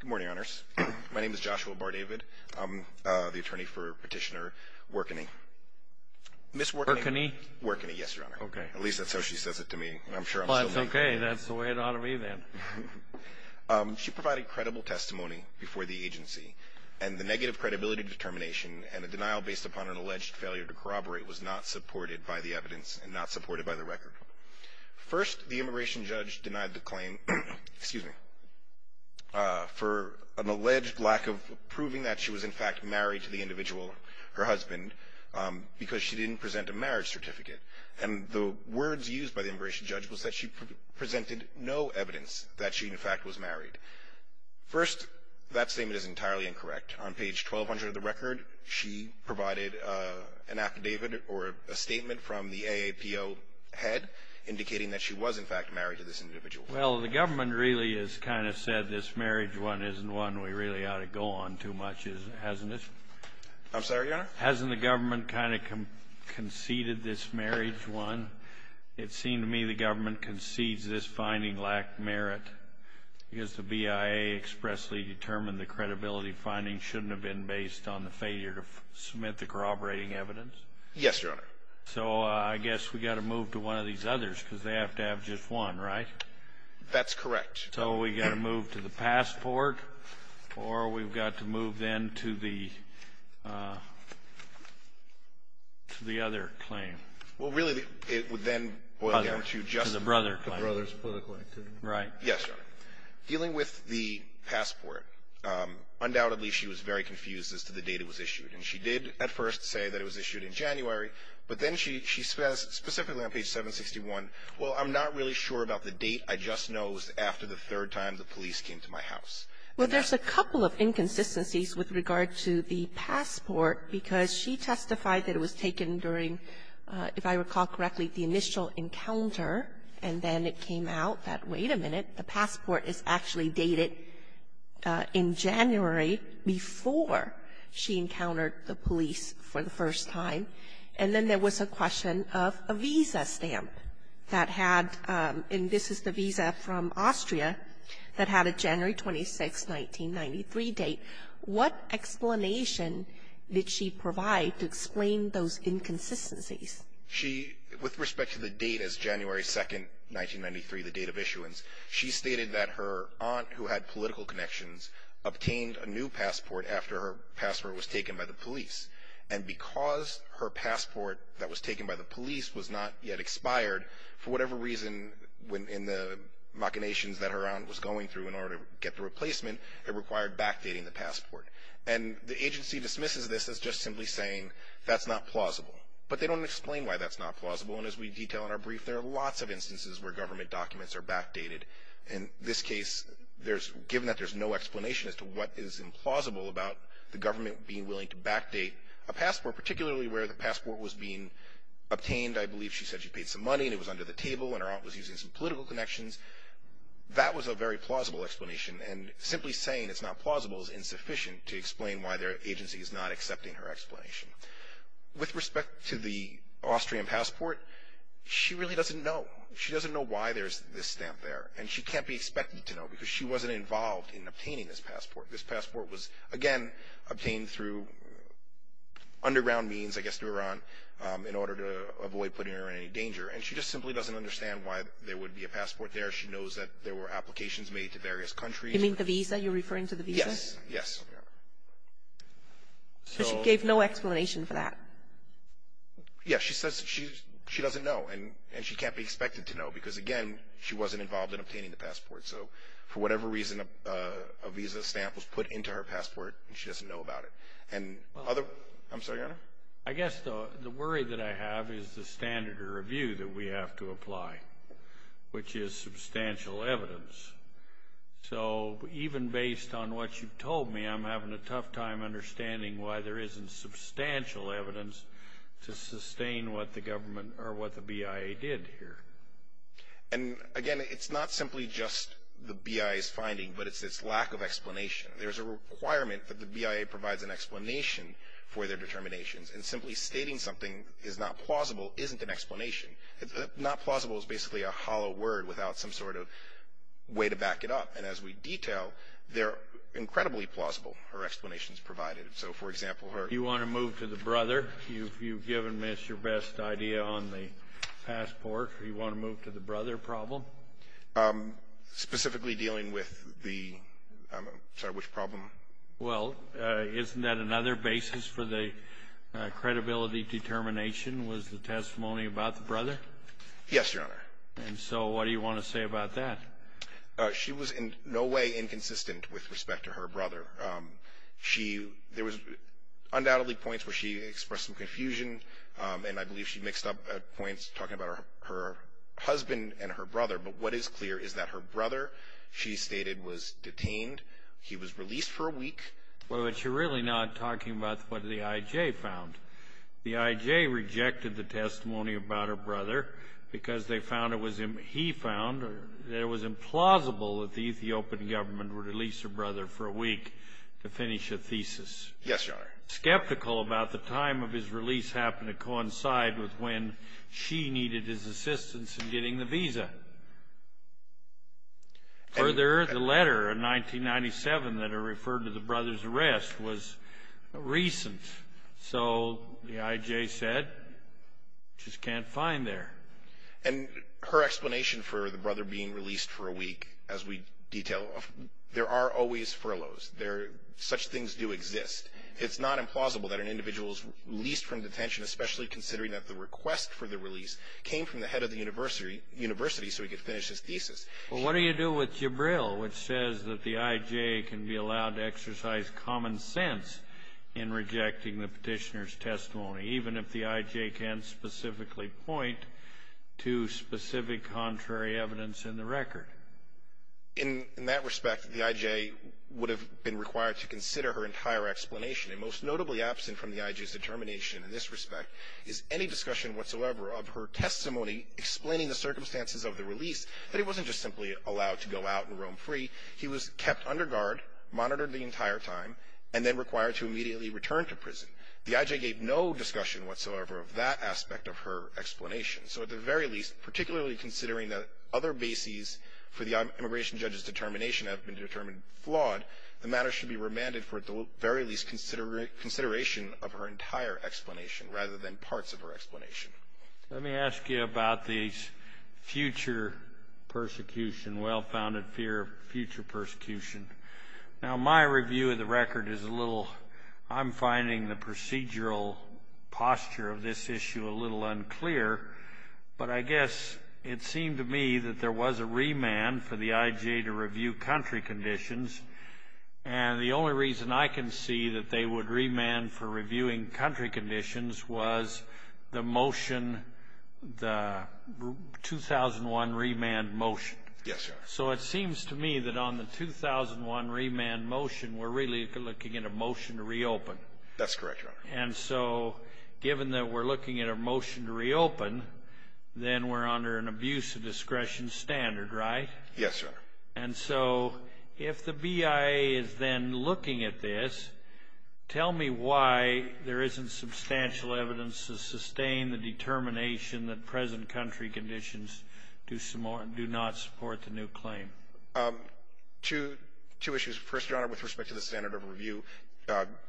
Good morning, honors. My name is Joshua Bardavid. I'm the attorney for Petitioner Workenhe. Ms. Workenhe? Workenhe, yes, your honor. Okay. At least that's how she says it to me. I'm sure I'm still named. Well, that's okay. That's the way it ought to be then. She provided credible testimony before the agency, and the negative credibility determination and the denial based upon an alleged failure to corroborate was not supported by the evidence and not supported by the record. First, the immigration judge denied the claim for an alleged lack of proving that she was, in fact, married to the individual, her husband, because she didn't present a marriage certificate. And the words used by the immigration judge was that she presented no evidence that she, in fact, was married. First, that statement is entirely incorrect. On page 1200 of the record, she provided an affidavit or a statement from the AAPO head indicating that she was, in fact, married to this individual. Well, the government really has kind of said this marriage one isn't one we really ought to go on too much. Hasn't it? I'm sorry, your honor? Hasn't the government kind of conceded this marriage one? It seemed to me the government concedes this finding lacked merit because the BIA expressly determined the credibility finding shouldn't have been based on the failure to submit the corroborating evidence. Yes, your honor. So I guess we've got to move to one of these others because they have to have just one, right? That's correct. So we've got to move to the passport or we've got to move then to the other claim. Well, really, it would then boil down to just the brother claim. The brother's political activity. Right. Yes, your honor. Dealing with the passport, undoubtedly she was very confused as to the date it was issued. And she did at first say that it was issued in January, but then she specifically on page 761, well, I'm not really sure about the date. I just know it was after the third time the police came to my house. Well, there's a couple of inconsistencies with regard to the passport because she testified that it was taken during, if I recall correctly, the initial encounter. And then it came out that, wait a minute, the passport is actually dated in January before she encountered the police for the first time. And then there was a question of a visa stamp that had, and this is the visa from Austria, that had a January 26, 1993 date. What explanation did she provide to explain those inconsistencies? She, with respect to the date as January 2, 1993, the date of issuance, she stated that her aunt, who had political connections, obtained a new passport after her passport was taken by the police. And because her passport that was taken by the police was not yet expired, for whatever reason in the machinations that her aunt was going through in order to get the replacement, it required backdating the passport. And the agency dismisses this as just simply saying that's not plausible. But they don't explain why that's not plausible. And as we detail in our brief, there are lots of instances where government documents are backdated. In this case, given that there's no explanation as to what is implausible about the government being willing to backdate a passport, particularly where the passport was being obtained. I believe she said she paid some money and it was under the table and her aunt was using some political connections. That was a very plausible explanation. And simply saying it's not plausible is insufficient to explain why their agency is not accepting her explanation. With respect to the Austrian passport, she really doesn't know. She doesn't know why there's this stamp there. And she can't be expected to know because she wasn't involved in obtaining this passport. This passport was, again, obtained through underground means, I guess through Iran, in order to avoid putting her in any danger. And she just simply doesn't understand why there would be a passport there. She knows that there were applications made to various countries. You mean the visa? You're referring to the visa? Yes. Yes. So she gave no explanation for that? Yes. She says she doesn't know. And she can't be expected to know because, again, she wasn't involved in obtaining the passport. So for whatever reason, a visa stamp was put into her passport and she doesn't know about it. And other — I'm sorry, Your Honor? I guess the worry that I have is the standard of review that we have to apply, which is substantial evidence. So even based on what you've told me, I'm having a tough time understanding why there isn't substantial evidence to sustain what the government or what the BIA did here. And, again, it's not simply just the BIA's finding, but it's its lack of explanation. There's a requirement that the BIA provides an explanation for their determinations. And simply stating something is not plausible isn't an explanation. Not plausible is basically a hollow word without some sort of way to back it up. And as we detail, they're incredibly plausible, her explanations provided. So, for example, her — You want to move to the brother? You've given me your best idea on the passport. You want to move to the brother problem? Specifically dealing with the — I'm sorry, which problem? Well, isn't that another basis for the credibility determination was the testimony about the brother? Yes, Your Honor. And so what do you want to say about that? She was in no way inconsistent with respect to her brother. She — there was undoubtedly points where she expressed some confusion, and I believe she mixed up points talking about her husband and her brother. But what is clear is that her brother, she stated, was detained. He was released for a week. Well, but you're really not talking about what the I.J. found. The I.J. rejected the testimony about her brother because they found it was — he found that it was implausible that the Ethiopian government would release her brother for a week to finish a thesis. Yes, Your Honor. She was skeptical about the time of his release happened to coincide with when she needed his assistance in getting the visa. Further, the letter in 1997 that referred to the brother's arrest was recent. So the I.J. said, just can't find there. And her explanation for the brother being released for a week, as we detail, there are always furloughs. There — such things do exist. It's not implausible that an individual is released from detention, especially considering that the request for the release came from the head of the university, so he could finish his thesis. Well, what do you do with Jibril, which says that the I.J. can be allowed to exercise common sense in rejecting the petitioner's testimony, even if the I.J. can't specifically point to specific contrary evidence in the record? In that respect, the I.J. would have been required to consider her entire explanation. And most notably absent from the I.J.'s determination in this respect is any discussion whatsoever of her testimony explaining the circumstances of the release, that he wasn't just simply allowed to go out and roam free. He was kept under guard, monitored the entire time, and then required to immediately return to prison. The I.J. gave no discussion whatsoever of that aspect of her explanation. So at the very least, particularly considering that other bases for the immigration judge's determination have been determined flawed, the matter should be remanded for at the very least consideration of her entire explanation rather than parts of her explanation. Let me ask you about the future persecution, well-founded fear of future persecution. Now, my review of the record is a little — I'm finding the procedural posture of this issue a little unclear, but I guess it seemed to me that there was a remand for the I.J. to review country conditions, and the only reason I can see that they would remand for reviewing country conditions was the motion, the 2001 remand motion. Yes, Your Honor. So it seems to me that on the 2001 remand motion, we're really looking at a motion to reopen. That's correct, Your Honor. And so given that we're looking at a motion to reopen, then we're under an abuse of discretion standard, right? Yes, Your Honor. And so if the BIA is then looking at this, tell me why there isn't substantial evidence to sustain the determination that present country conditions do not support the new claim. Two issues. First, Your Honor, with respect to the standard of review,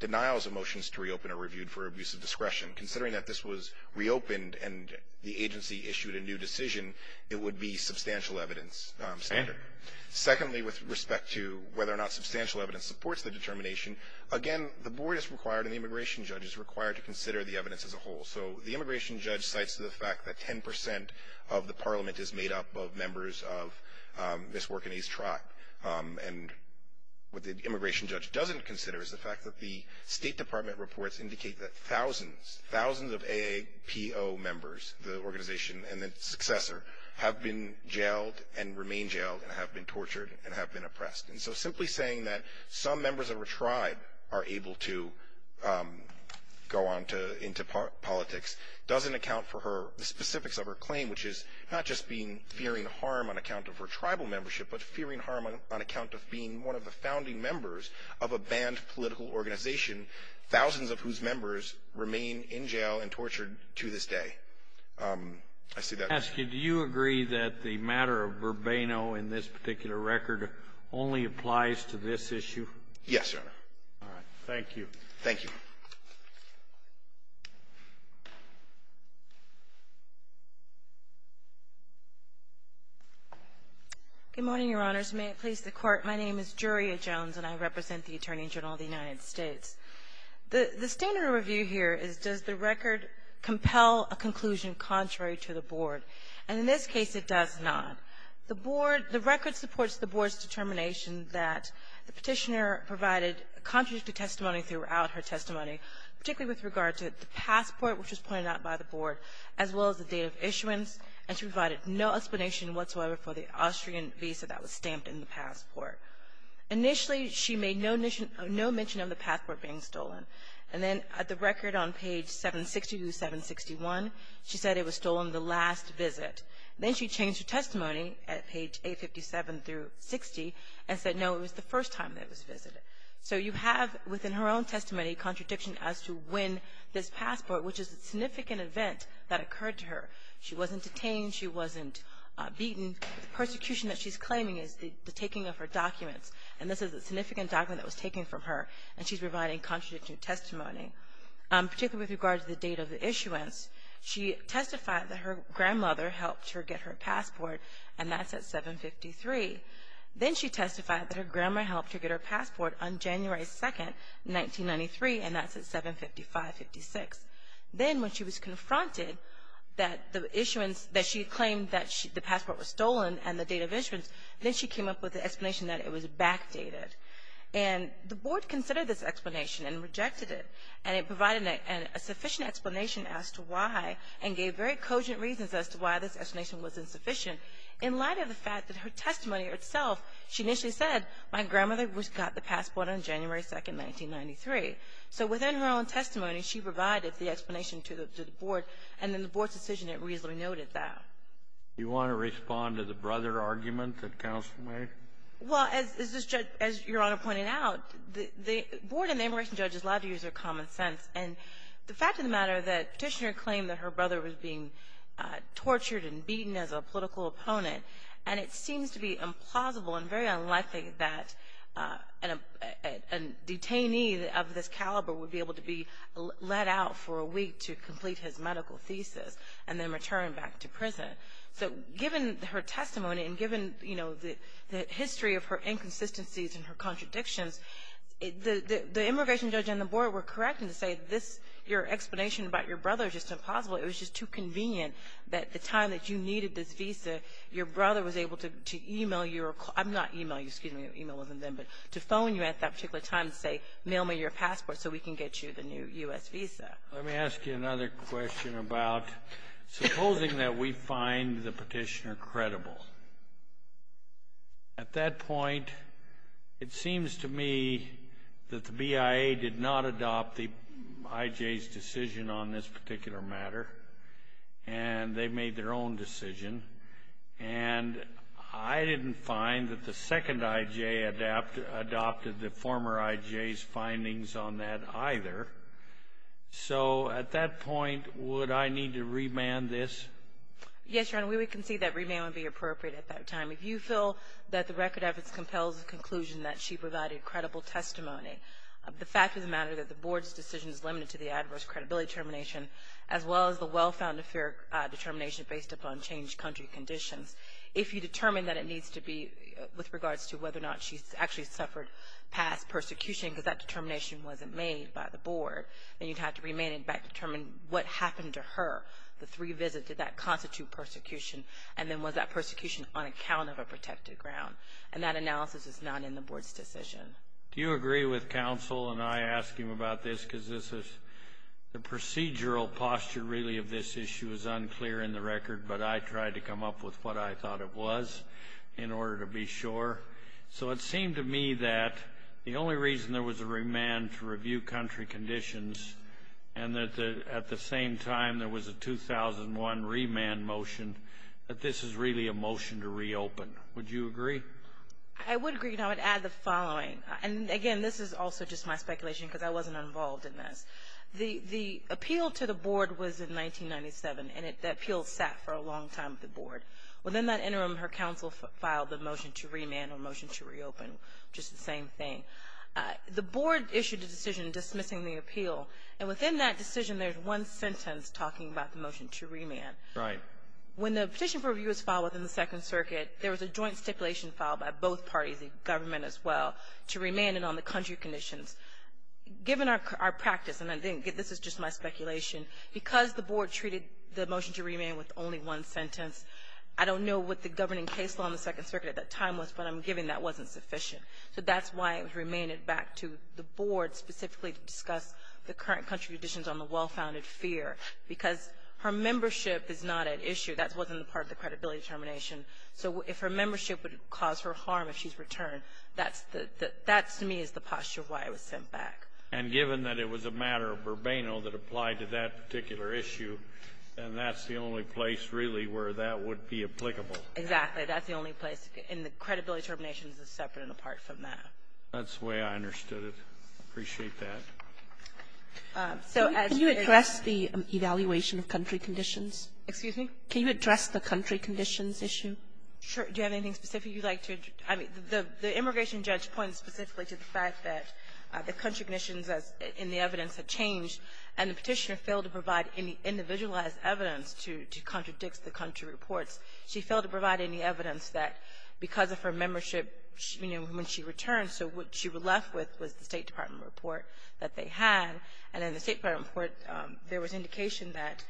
denial is a motion to reopen a review for abuse of discretion. Considering that this was reopened and the agency issued a new decision, it would be substantial evidence standard. And? Secondly, with respect to whether or not substantial evidence supports the determination, again, the board is required and the immigration judge is required to consider the evidence as a whole. So the immigration judge cites the fact that 10 percent of the parliament is made up of members of Ms. Work and A's tribe. And what the immigration judge doesn't consider is the fact that the State Department reports indicate that thousands, thousands of AAPO members, the organization and its successor, have been jailed and remain jailed and have been tortured and have been oppressed. And so simply saying that some members of her tribe are able to go on into politics doesn't account for the specifics of her claim, which is not just fearing harm on account of her tribal membership, but fearing harm on account of being one of the founding members of a banned political organization, thousands of whose members remain in jail and tortured to this day. I see that. Do you agree that the matter of Bourbano in this particular record only applies to this issue? Yes, Your Honor. All right. Thank you. Thank you. Good morning, Your Honors. May it please the Court. My name is Juria Jones, and I represent the Attorney General of the United States. The standard review here is, does the record compel a conclusion contrary to the Board? And in this case, it does not. The Board — the record supports the Board's determination that the Petitioner provided contradictory testimony throughout her testimony, particularly with regard to the passport, which was pointed out by the Board, as well as the date of issuance. And she provided no explanation whatsoever for the Austrian visa that was stamped in the passport. Initially, she made no mention of the passport being stolen. And then at the record on page 760-761, she said it was stolen the last visit. Then she changed her testimony at page 857-60 and said, no, it was the first time that it was visited. So you have within her own testimony a contradiction as to when this passport, which is a significant event that occurred to her. She wasn't detained. She wasn't beaten. The persecution that she's claiming is the taking of her documents. And this is a significant document that was taken from her. And she's providing contradictory testimony, particularly with regard to the date of the issuance. She testified that her grandmother helped her get her passport, and that's at 7-53. Then she testified that her grandma helped her get her passport on January 2, 1993, and that's at 7-55-56. Then when she was confronted that the issuance, that she claimed that the passport was stolen and the date of issuance, then she came up with the explanation that it was backdated. And the board considered this explanation and rejected it, and it provided a sufficient explanation as to why and gave very cogent reasons as to why this explanation was insufficient. In light of the fact that her testimony itself, she initially said, my grandmother got the passport on January 2, 1993. So within her own testimony, she provided the explanation to the board, and then the board's decision, it reasonably noted that. Kennedy. Do you want to respond to the brother argument that counsel made? Well, as this judge, as Your Honor pointed out, the board and the immigration judges like to use their common sense. And the fact of the matter that Petitioner claimed that her brother was being tortured and beaten as a political opponent, and it seems to be implausible and very unlikely that a detainee of this caliber would be able to be let out for a week to complete his medical thesis and then return back to prison. So given her testimony and given, you know, the history of her inconsistencies and her contradictions, the immigration judge and the board were correct in saying this, your explanation about your brother is just impossible. It was just too convenient that the time that you needed this visa, your brother was able to email your, not email you, excuse me, email wasn't then, but to phone you at that particular time and say, mail me your passport so we can get you the new U.S. visa. Let me ask you another question about supposing that we find the petitioner credible. At that point, it seems to me that the BIA did not adopt the IJ's decision on this particular matter, and they made their own decision. And I didn't find that the second IJ adopted the former IJ's findings on that either. So at that point, would I need to remand this? Yes, Your Honor, we would concede that remand would be appropriate at that time. If you feel that the record of its compels the conclusion that she provided credible testimony, the fact of the matter is that the board's decision is limited to the adverse credibility termination as well as the well-founded determination based upon changed country conditions. If you determine that it needs to be with regards to whether or not she's actually suffered past persecution because that determination wasn't made by the board, then you'd have to remand it back to determine what happened to her. The three visits, did that constitute persecution? And then was that persecution on account of a protected ground? And that analysis is not in the board's decision. Do you agree with counsel, and I ask him about this because the procedural posture really of this issue is unclear in the record, but I tried to come up with what I thought it was in order to be sure. So it seemed to me that the only reason there was a remand to review country conditions and that at the same time there was a 2001 remand motion, that this is really a motion to reopen. Would you agree? I would agree, and I would add the following. And, again, this is also just my speculation because I wasn't involved in this. The appeal to the board was in 1997, and that appeal sat for a long time with the board. Within that interim, her counsel filed the motion to remand or motion to reopen, just the same thing. The board issued a decision dismissing the appeal, and within that decision there's one sentence talking about the motion to remand. Right. When the petition for review was filed within the Second Circuit, there was a joint stipulation filed by both parties, the government as well, to remand it on the country conditions. Given our practice, and I think this is just my speculation, because the board treated the motion to remand with only one sentence, I don't know what the governing case law in the Second Circuit at that time was, but I'm given that wasn't sufficient. So that's why it was remanded back to the board specifically to discuss the current country conditions on the well-founded fear, because her membership is not at issue. That wasn't part of the credibility termination. So if her membership would cause her harm if she's returned, that to me is the posture why it was sent back. And given that it was a matter of verbatim that applied to that particular issue, then that's the only place really where that would be applicable. Exactly. That's the only place, and the credibility termination is separate and apart from that. That's the way I understood it. I appreciate that. So as you address the evaluation of country conditions. Excuse me? Can you address the country conditions issue? Sure. Do you have anything specific you'd like to address? I mean, the immigration judge points specifically to the fact that the country conditions in the evidence had changed, and the Petitioner failed to provide any individualized evidence to contradict the country reports. She failed to provide any evidence that because of her membership, you know, when she returned, so what she was left with was the State Department report that they had. And in the State Department report, there was indication that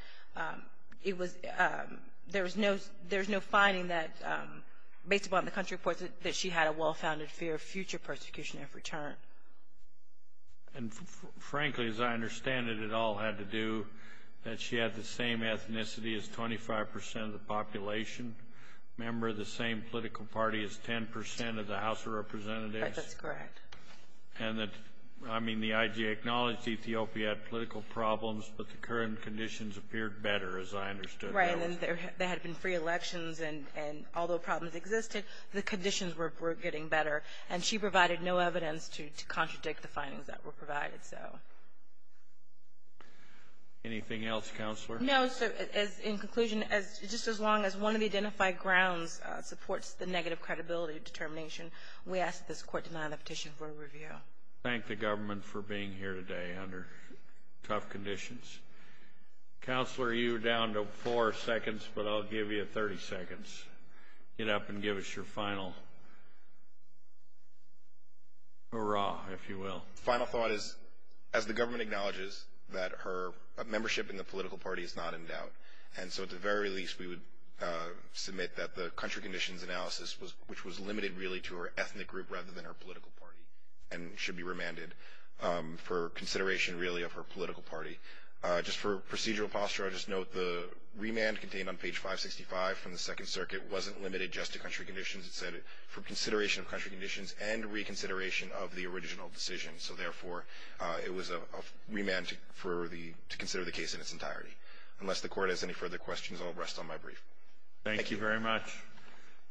it was – there was no – there was no finding that, based upon the country reports, that she had a well-founded fear of future persecution if returned. And frankly, as I understand it, it all had to do that she had the same ethnicity as 25% of the population, member of the same political party as 10% of the House of Representatives. That's correct. And that – I mean, the IG acknowledged Ethiopia had political problems, but the current conditions appeared better, as I understood. Right, and there had been free elections, and although problems existed, the conditions were getting better. And she provided no evidence to contradict the findings that were provided, so. Anything else, Counselor? No, so in conclusion, just as long as one of the identified grounds supports the negative credibility determination, we ask that this Court deny the petition for review. Thank the government for being here today under tough conditions. Counselor, you're down to four seconds, but I'll give you 30 seconds. Get up and give us your final hurrah, if you will. Final thought is, as the government acknowledges, that her membership in the political party is not in doubt. And so at the very least, we would submit that the country conditions analysis, which was limited really to her ethnic group rather than her political party and should be remanded for consideration really of her political party. Just for procedural posture, I'll just note the remand contained on page 565 from the Second Circuit wasn't limited just to country conditions. It said for consideration of country conditions and reconsideration of the original decision. So, therefore, it was a remand to consider the case in its entirety. Unless the Court has any further questions, I'll rest on my brief. Thank you very much.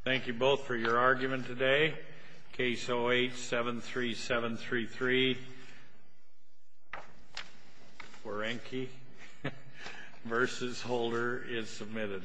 Thank you both for your argument today. Case 08-73733, Werenke v. Holder is submitted.